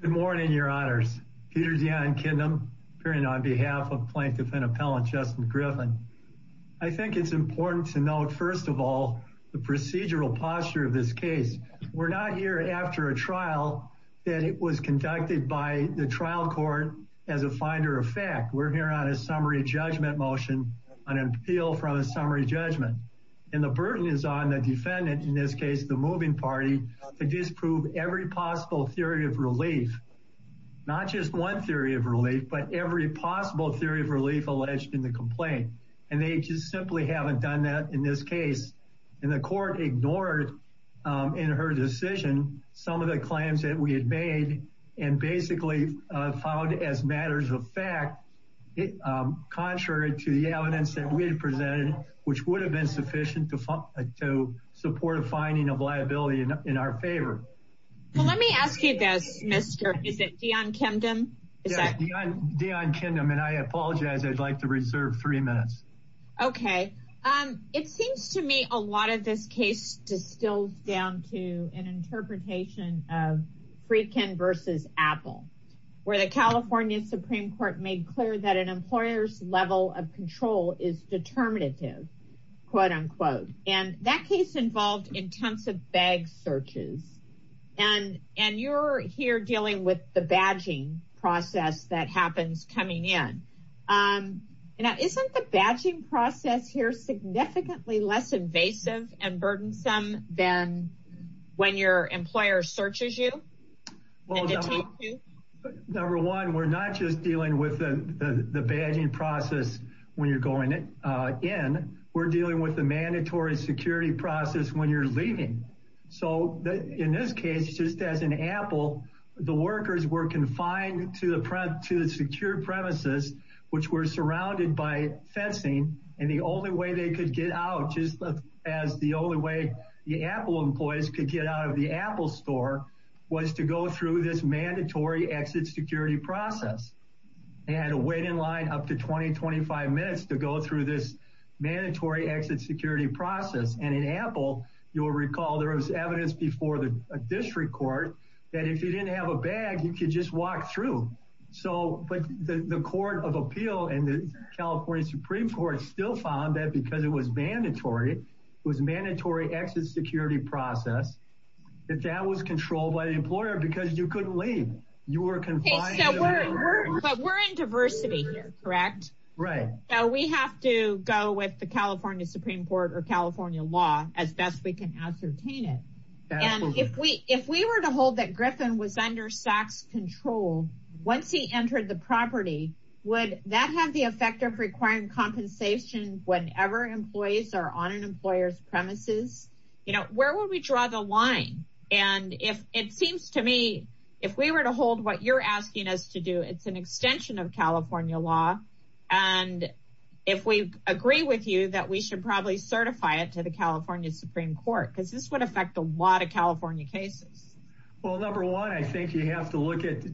Good morning, your honors. Peter Dion Kidnam appearing on behalf of Plaintiff and Appellant Justin Griffin. I think it's important to note, first of all, the procedural posture of this case. We're not here after a trial that was conducted by the trial court as a finder of fact. We're here on a summary judgment motion, an appeal from a summary judgment. And the burden is on defendant, in this case the moving party, to disprove every possible theory of relief. Not just one theory of relief, but every possible theory of relief alleged in the complaint. And they just simply haven't done that in this case. And the court ignored in her decision some of the claims that we had made and basically found as matters of fact, contrary to the evidence that we had presented, which would have been sufficient to support a finding of liability in our favor. Well, let me ask you this, Mr. Is it Dion Kidnam? Dion Kidnam. And I apologize. I'd like to reserve three minutes. Okay. It seems to me a lot of this case distills down to an interpretation of Friedkin versus Apple, where the California Supreme Court made clear that an employer's level of control is determinative, quote unquote. And that case involved intensive bag searches. And you're here dealing with the badging process that happens coming in. Isn't the badging process here significantly less invasive and burdensome than when your employer searches you? Well, number one, we're not just dealing with the badging process when you're going in. We're dealing with the mandatory security process when you're leaving. So in this case, just as an Apple, the workers were confined to the secure premises, which were surrounded by fencing. And the only way they could get out just as the only way the Apple employees could get out of the Apple store was to go through this mandatory exit security process. They had to wait in line up to 20, 25 minutes to go through this mandatory exit security process. And in Apple, you'll recall there was evidence before the district court that if you didn't have a bag, you could just walk through. So but the Court of Appeal and the was mandatory. It was mandatory exit security process. If that was controlled by the employer because you couldn't leave, you were confined. But we're in diversity here, correct? Right. So we have to go with the California Supreme Court or California law as best we can ascertain it. And if we if we were to hold that Griffin was under SAC's control, once he entered the property, would that have the effect of requiring compensation whenever employees are on an employer's premises? You know, where would we draw the line? And if it seems to me, if we were to hold what you're asking us to do, it's an extension of California law. And if we agree with you that we should probably certify it to the California Supreme Court, because this would affect a lot of California cases. Well, number one, I think you have to get to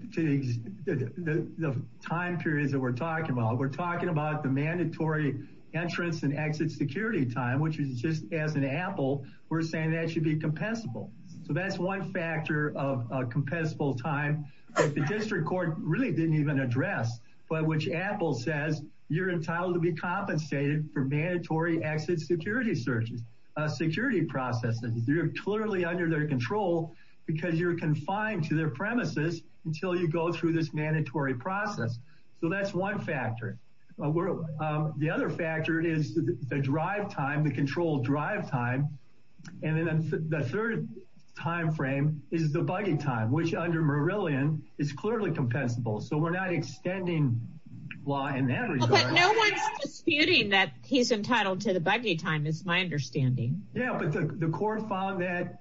the time periods that we're talking about. We're talking about the mandatory entrance and exit security time, which is just as an apple. We're saying that should be compensable. So that's one factor of a compensable time. The district court really didn't even address by which Apple says you're entitled to be compensated for mandatory exit security searches, security processes. You're clearly under their control because you're confined to their premises until you go through this mandatory process. So that's one factor. The other factor is the drive time, the controlled drive time. And then the third time frame is the buggy time, which under Marillion is clearly compensable. So we're not extending law in that regard. But no one's disputing that he's entitled to the buggy time is my understanding. Yeah, but the court found that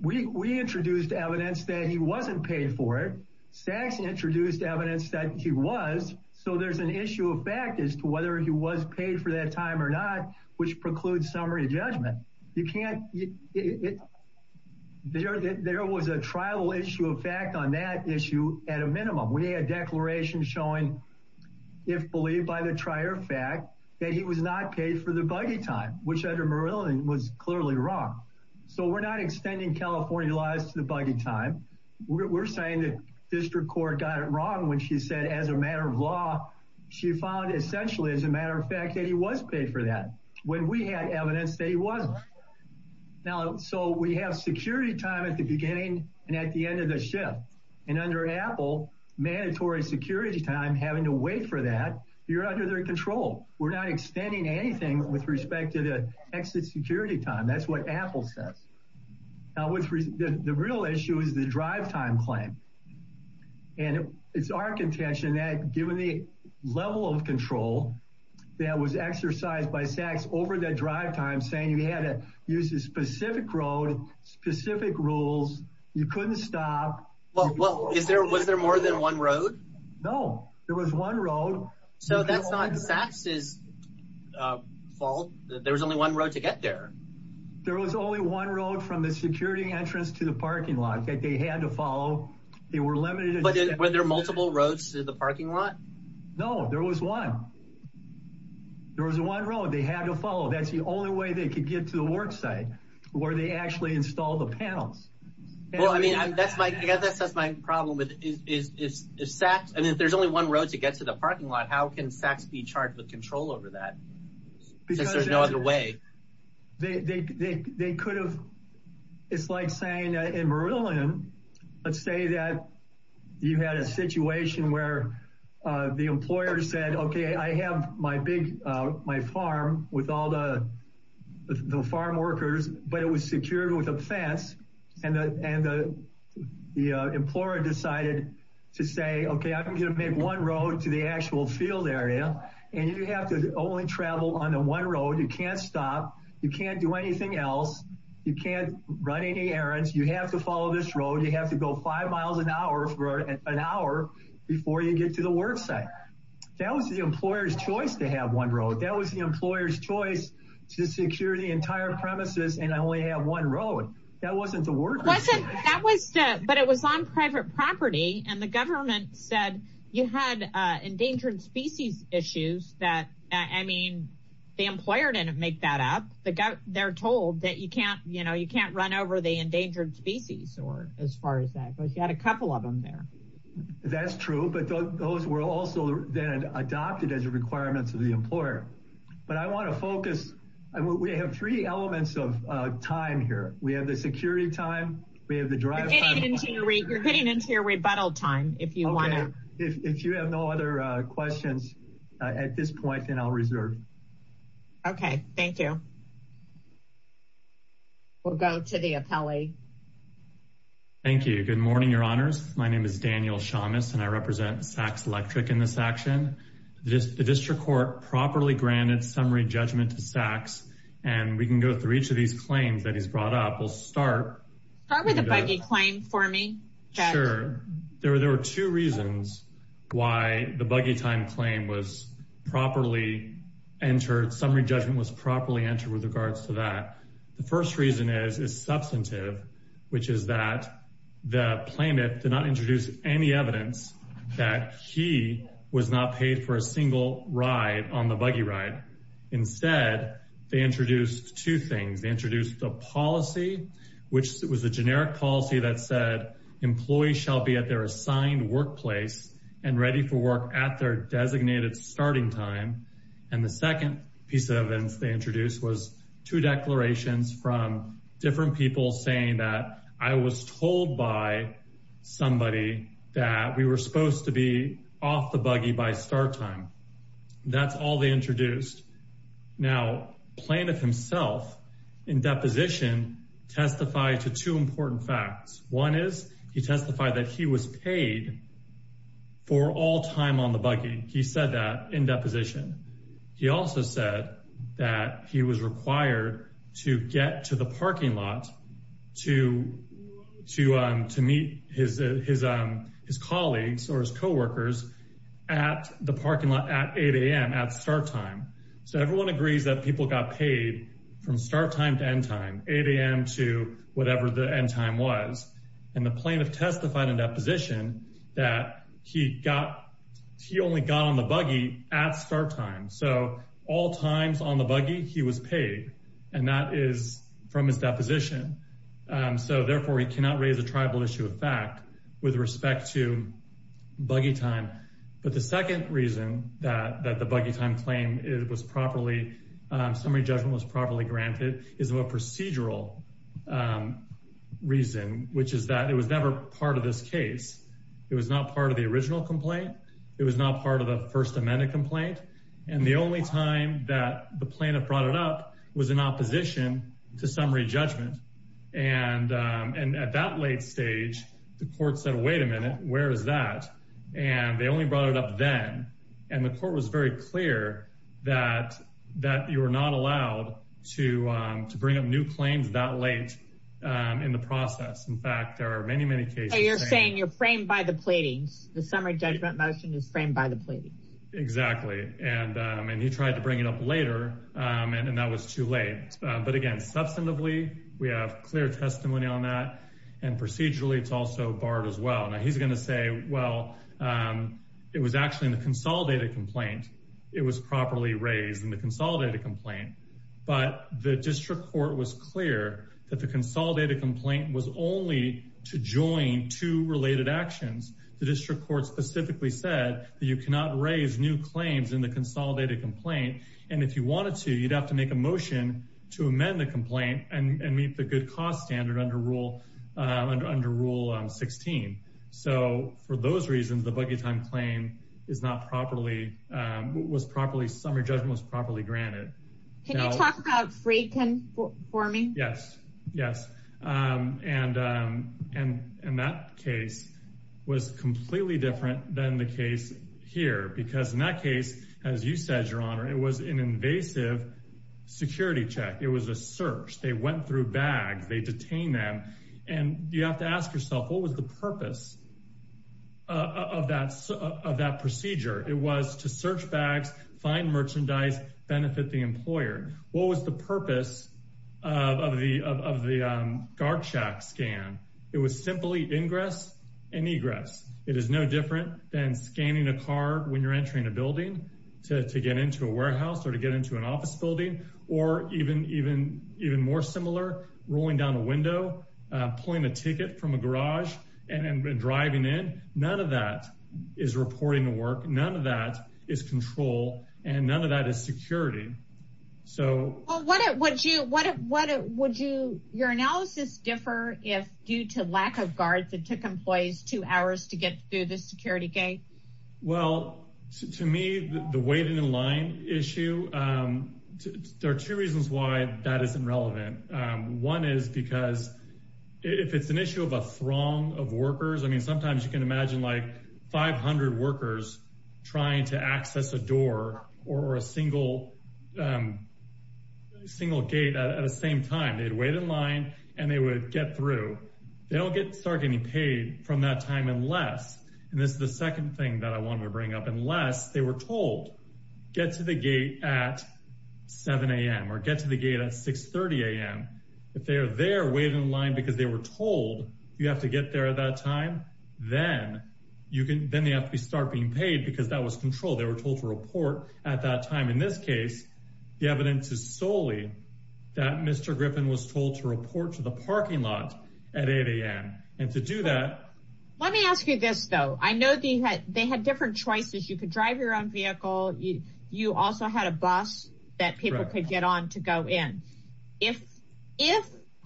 we introduced evidence that he wasn't paid for it. Sachs introduced evidence that he was. So there's an issue of fact as to whether he was paid for that time or not, which precludes summary judgment. There was a trial issue of fact on that issue at a minimum. We had a declaration showing, if believed by the trier fact, that he was not paid for the buggy time, which under Marillion was clearly wrong. So we're not extending California laws to the buggy time. We're saying that district court got it wrong when she said as a matter of law, she found essentially, as a matter of fact, that he was paid for that when we had evidence that he wasn't. Now, so we have security time at the beginning and at the end of the shift. And under Apple, mandatory security time having to wait for that. You're under their control. We're not extending anything with respect to the exit security time. That's what Apple says. Now, the real issue is the drive time claim. And it's our contention that given the level of control that was exercised by Sachs over that drive time saying you had to use a specific road, specific rules, you couldn't stop. Well, is there was there more than one road? No, there was one road. So that's not Sachs's fault. There was only one road to get there. There was only one road from the security entrance to the parking lot that they had to follow. They were limited. But were there multiple roads to the parking lot? No, there was one. There was one road they had to follow. That's the only way they could get to the work site where they actually install the panels. Well, I mean, that's my I guess that's my problem with is is is Sachs. And if there's only one road to get to the parking lot, how can Sachs be charged with control over that? Because there's no other way they they they could have. It's like saying in Maryland, let's say that you had a situation where the employer said, OK, I have my big my farm with all the farm workers, but it was secured with a fence. And the and the employer decided to say, OK, I'm going to make one road to the actual field area. And you have to only travel on the one road. You can't stop. You can't do anything else. You can't run any errands. You have to follow this road. You have to go five miles an hour for an hour before you get to the work site. That was the employer's choice to have one road. That was the employer's choice to secure the entire premises. And I only have one road that wasn't the work. That was that. But it was on private property and the government said you had endangered species issues that I mean, the employer didn't make that up. They're told that you can't you know, you can't run over the endangered species or as far as that goes. You had a couple of them there. That's true. But those were also then adopted as a requirement to the employer. But I want to focus. We have three elements of time here. We have the security time. We have the drive. You're getting into your rebuttal time if you want to. If you have no other questions at this point, then I'll reserve. OK, thank you. We'll go to the appellee. Thank you. Good morning, Your Honors. My name is Daniel Shamus, and I represent SACS Electric in this action. The district court properly granted summary judgment to SACS. And we can go through each of these claims that he's brought up. We'll start with a buggy claim for me. Sure. There were there were two reasons why the buggy time claim was properly entered. Summary judgment was properly entered with regards to that. The first reason is is substantive, which is that the plaintiff did not introduce any evidence that he was not paid for a single ride on the buggy ride. Instead, they introduced two things. They introduced the policy, which was a generic policy that said employees shall be at their assigned workplace and ready for work at their designated starting time. And the second piece of evidence they introduced was two declarations from different people saying that I was told by somebody that we were supposed to be off the buggy by start time. That's all they introduced. Now, plaintiff himself, in deposition, testified to two important facts. One is he testified that he was paid for all time on the buggy. He said that in deposition. He also said that he was his colleagues or his co-workers at the parking lot at 8 a.m. at start time. So everyone agrees that people got paid from start time to end time, 8 a.m. to whatever the end time was. And the plaintiff testified in deposition that he only got on the buggy at start time. So all times on the buggy, he was paid. And that is from his deposition. So therefore, he cannot raise a with respect to buggy time. But the second reason that the buggy time claim was properly, summary judgment was properly granted, is a procedural reason, which is that it was never part of this case. It was not part of the original complaint. It was not part of the First Amendment complaint. And the only time that the plaintiff brought it up was in opposition to summary judgment. And at that late stage, the court said, wait a minute, where is that? And they only brought it up then. And the court was very clear that you were not allowed to bring up new claims that late in the process. In fact, there are many, many cases. You're saying you're framed by the pleadings. The summary judgment motion is framed by the Exactly. And he tried to bring it up later. And that was too late. But again, substantively, we have clear testimony on that. And procedurally, it's also barred as well. Now he's going to say, well, it was actually in the consolidated complaint. It was properly raised in the consolidated complaint. But the district court was clear that the consolidated complaint was only to join two related actions. The district court specifically said that you cannot raise new claims in the consolidated complaint. And if you wanted to, you'd have to make a motion to amend the complaint and meet the good cost standard under rule 16. So for those reasons, the buggy time claim is not properly, was properly, summary judgment was properly granted. Can you talk about free conforming? Yes, yes. And that case was completely different than the case here. Because in that case, as you said, Your Honor, it was an invasive security check. It was a search. They went through bags. They detained them. And you have to ask yourself, what was the purpose of that procedure? It was to search bags, find merchandise, benefit the employer. What was the purpose of the guard shack scan? It was simply ingress and egress. It is no different than scanning a card when you're entering a building to get into a warehouse or to get into an office building. Or even more similar, rolling down a window, pulling a ticket from a garage and driving in. None of that is reporting to work. None of that is control. And none of that is security. Would your analysis differ if due to lack of guards, it took employees two hours to get through the security gate? Well, to me, the waiting in line issue, there are two reasons why that is irrelevant. One is because if it's an issue of a throng of workers, I mean, sometimes you can imagine like 500 workers trying to access a door or a single gate at the same time. They'd wait in line and they would get through. They don't start getting paid from that time unless, and this is the second thing that I want to bring up, unless they were told, get to the gate at 7 a.m. or get to the gate at 6.30 a.m. If they are there waiting in line because they were told you have to get there at that time, then they have to start being paid because that was control. They were told to report at that time. In this case, the evidence is solely that Mr. Griffin was told to report to the parking lot at 8 a.m. And to do that. Let me ask you this, though. I know they had different choices. You could drive your own vehicle. You also had a bus that people could get on to go in. If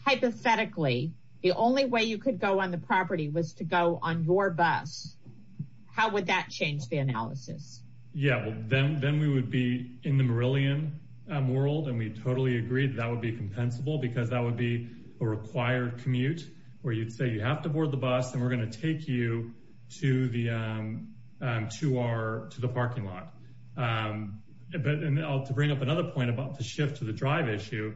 hypothetically, the only way you could go on the property was to go on your bus, how would that change the analysis? Yeah, well, then we would be in the Meridian world and we totally agreed that would be compensable because that would be a required commute where you'd say you have to board the bus and we're going to take you to the parking lot. But to bring up another point about the shift to the drive issue,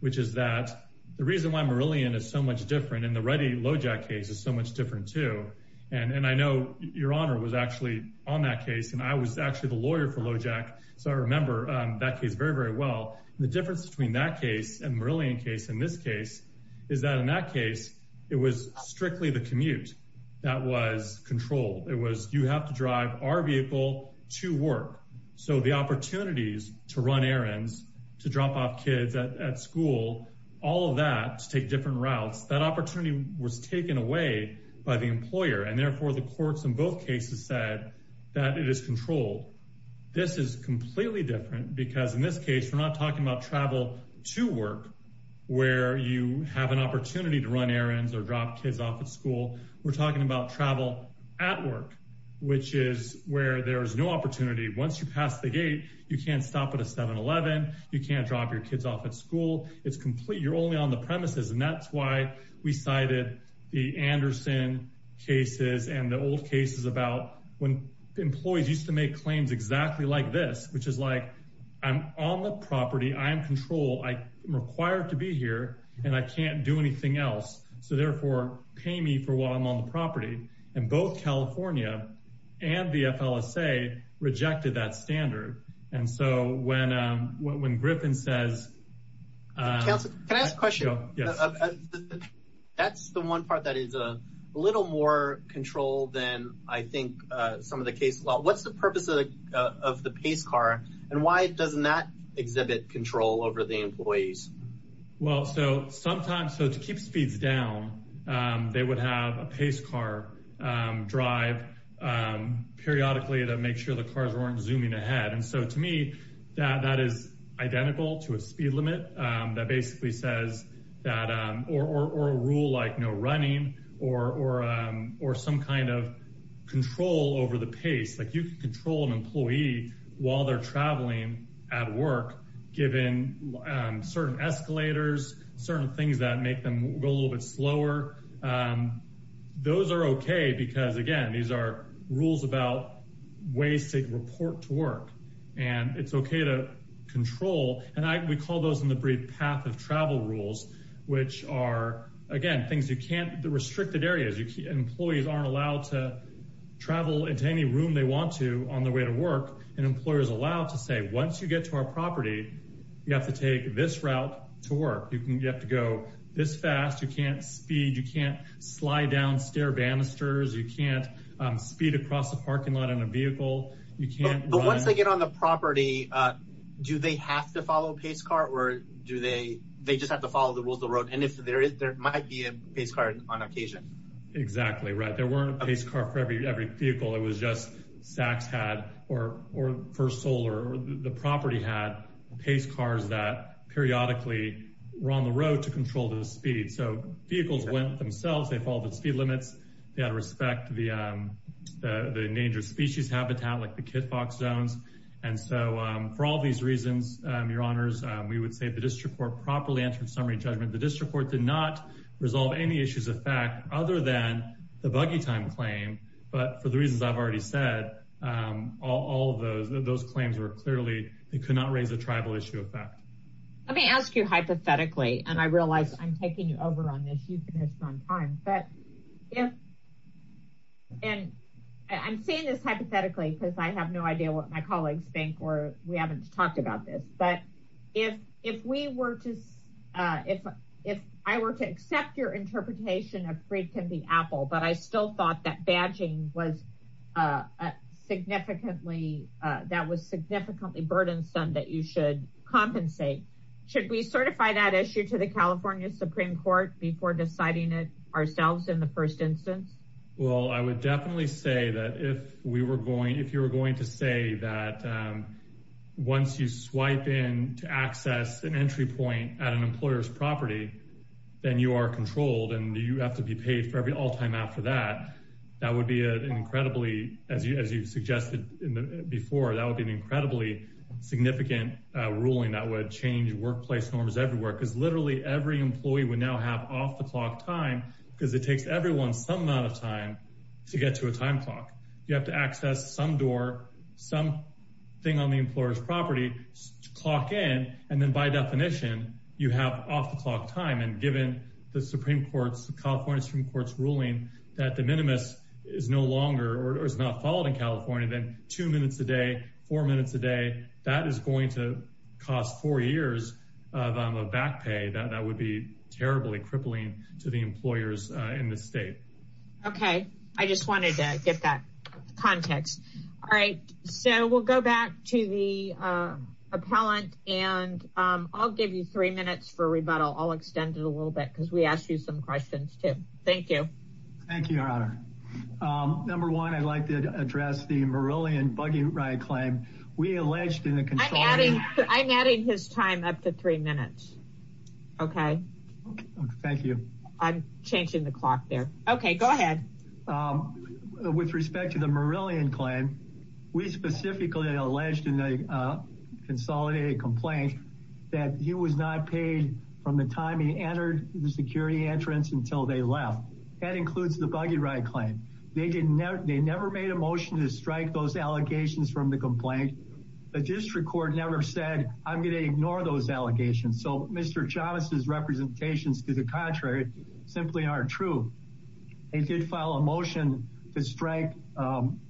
which is that the reason why Meridian is so much different in the Ready Lojack case is so much different, too. And I know your honor was actually on that case and I was actually the lawyer for Lojack. So I remember that case very, very well. The difference between that case and Meridian case in this case is that in that case, it was strictly the commute that was controlled. It was you have drive our vehicle to work. So the opportunities to run errands, to drop off kids at school, all of that to take different routes, that opportunity was taken away by the employer. And therefore, the courts in both cases said that it is controlled. This is completely different because in this case, we're not talking about travel to work where you have an opportunity to where there is no opportunity. Once you pass the gate, you can't stop at a 7-Eleven. You can't drop your kids off at school. It's complete. You're only on the premises. And that's why we cited the Anderson cases and the old cases about when employees used to make claims exactly like this, which is like, I'm on the property. I am control. I am required to be here and I can't do anything else. So therefore, pay me for while I'm on the property. And both California and the FLSA rejected that standard. And so when when Griffin says. Councilor, can I ask a question? Yes. That's the one part that is a little more control than I think some of the cases. Well, what's the purpose of the Pace car and why doesn't that exhibit control over the employees? Well, so sometimes so to keep speeds down, they would have a Pace car drive periodically to make sure the cars weren't zooming ahead. And so to me, that that is identical to a speed limit that basically says that or a rule like no running or some kind of control over the pace. You can control an employee while they're traveling at work, given certain escalators, certain things that make them go a little bit slower. Those are OK because, again, these are rules about ways to report to work and it's OK to control. And we call those in the brief path of travel rules, which are, again, things you can't the restricted areas. Employees aren't allowed to travel into any room they want to on the way to work. And employers are allowed to say, once you get to our property, you have to take this route to work. You have to go this fast. You can't speed. You can't slide down stair banisters. You can't speed across the parking lot in a vehicle. You can't. But once they get on the property, do they have to follow Pace car or do they they just have to follow the rules of the road? And if there is, there might be a Pace car on occasion. Exactly right. There weren't a Pace car for every vehicle. It was just Sachs had or First Solar. The property had Pace cars that periodically were on the road to control the speed. So vehicles went themselves. They followed the speed limits. They had to respect the endangered species habitat, like the kit fox zones. And so for all these reasons, your honors, we would say the district court properly answered summary judgment. The district court did not resolve any issues of fact other than the buggy time claim. But for the reasons I've already said, all of those those claims were clearly they could not raise a tribal issue of fact. Let me ask you hypothetically, and I realize I'm taking you over on this. You've been on time, but if and I'm saying this hypothetically because I have no idea what my colleagues think or we were to if if I were to accept your interpretation of free can be Apple, but I still thought that badging was significantly that was significantly burdensome that you should compensate. Should we certify that issue to the California Supreme Court before deciding it ourselves in the first instance? Well, I would definitely say that if we were going if you were going to say that once you swipe in to access an entry point at an employer's property, then you are controlled and you have to be paid for every all time after that. That would be an incredibly, as you as you've suggested before, that would be an incredibly significant ruling that would change workplace norms everywhere, because literally every employee would now have off the clock time because it takes everyone some amount of time to get to a thing on the employer's property clock in. And then by definition, you have off the clock time. And given the Supreme Court's California Supreme Court's ruling that the minimus is no longer or is not followed in California, then two minutes a day, four minutes a day, that is going to cost four years of back pay that that would be terribly crippling to the employers in the state. Okay, I just wanted to get that context. All right. So we'll go back to the appellant. And I'll give you three minutes for rebuttal. I'll extend it a little bit because we asked you some questions, too. Thank you. Thank you, Your Honor. Number one, I'd like to address the Marillion buggy ride claim. We alleged in the I'm adding his time up to three minutes. Okay. Thank you. I'm changing the clock there. Okay, go ahead. With respect to the Marillion claim, we specifically alleged in a consolidated complaint that he was not paid from the time he entered the security entrance until they left. That includes the buggy ride claim. They didn't know they never made a motion to strike those allegations from the complaint. The district court never said, I'm going to ignore those allegations. So Mr. Chavez's representations to the contrary simply aren't true. They did file a motion to strike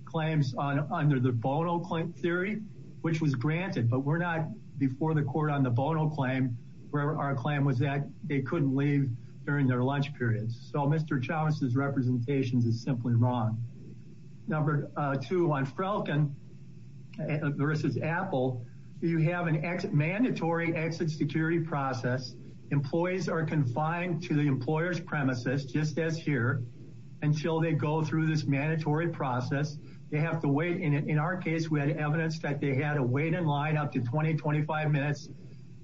claims on under the Bono claim theory, which was granted. But we're not before the court on the Bono claim, where our claim was that they couldn't leave during their lunch periods. So Mr. Chavez's You have an exit mandatory exit security process. Employees are confined to the employer's premises just as here until they go through this mandatory process. They have to wait in it. In our case, we had evidence that they had to wait in line up to 2025 minutes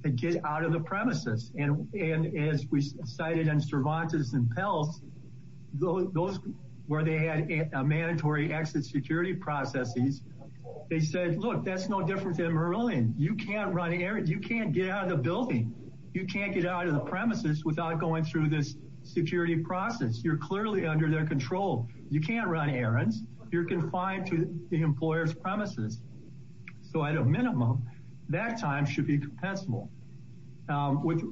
to get out of the premises. And and as we cited in Cervantes and Peltz, those where they had a mandatory exit security processes, they said, look, that's no different than Merlion. You can't run errands. You can't get out of the building. You can't get out of the premises without going through this security process. You're clearly under their control. You can't run errands. You're confined to the employer's premises. So at a minimum, that time should be compensable.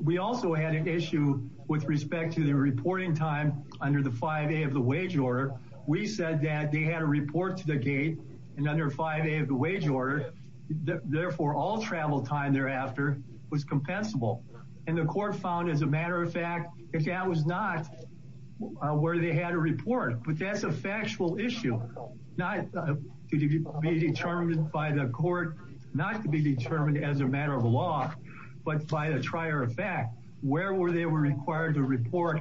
We also had an issue with respect to the reporting time under the 5A of the wage order. We said that they had to report to the 5A of the wage order. Therefore, all travel time thereafter was compensable. And the court found, as a matter of fact, if that was not where they had a report, but that's a factual issue, not to be determined by the court, not to be determined as a matter of law, but by the trier of fact, where were they were required to report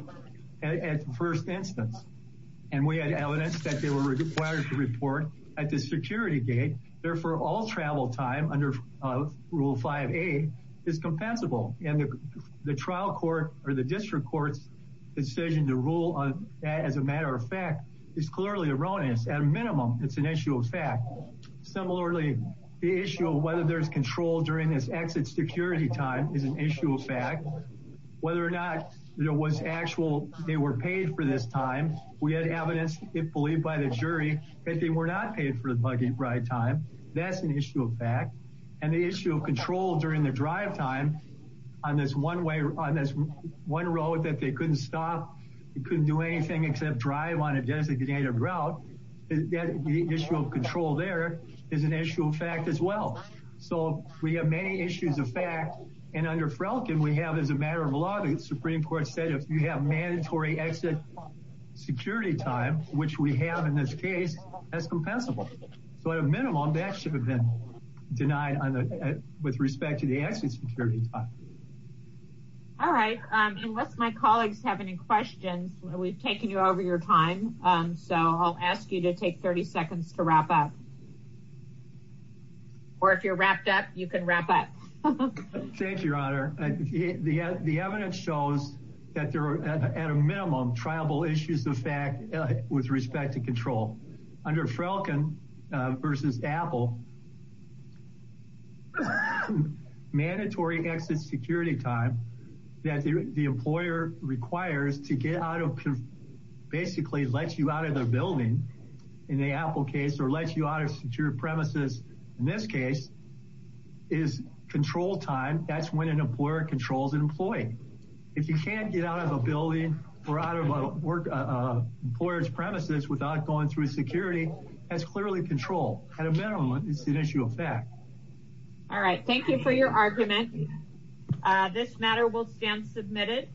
at first instance. And we had evidence that they were required to report at the security gate. Therefore, all travel time under rule 5A is compensable. And the trial court or the district court's decision to rule on that, as a matter of fact, is clearly erroneous. At a minimum, it's an issue of fact. Similarly, the issue of whether there's control during this exit security time is an issue of fact. And the issue of control during the drive time on this one way, on this one road that they couldn't stop, they couldn't do anything except drive on a designated route. The issue of control there is an issue of fact as well. So we have many issues of fact. And under security time, which we have in this case as compensable. So at a minimum, that should have been denied with respect to the exit security time. All right. Unless my colleagues have any questions, we've taken you over your time. So I'll ask you to take 30 seconds to wrap up. Or if you're wrapped up, you can wrap up. Thank you, Your Honor. The evidence shows that there are, at a minimum, triable issues of fact with respect to control. Under Frelkin v. Apple, mandatory exit security time that the employer requires to get out of, basically, let you out of the building, in the Apple case, or let you out of secure premises, in this case, is control time. That's when an employer controls an employee. If you can't get out of a building or out of an employer's premises without going through security, that's clearly control. At a minimum, it's an issue of fact. All right. Thank you for your argument. This matter will stand submitted.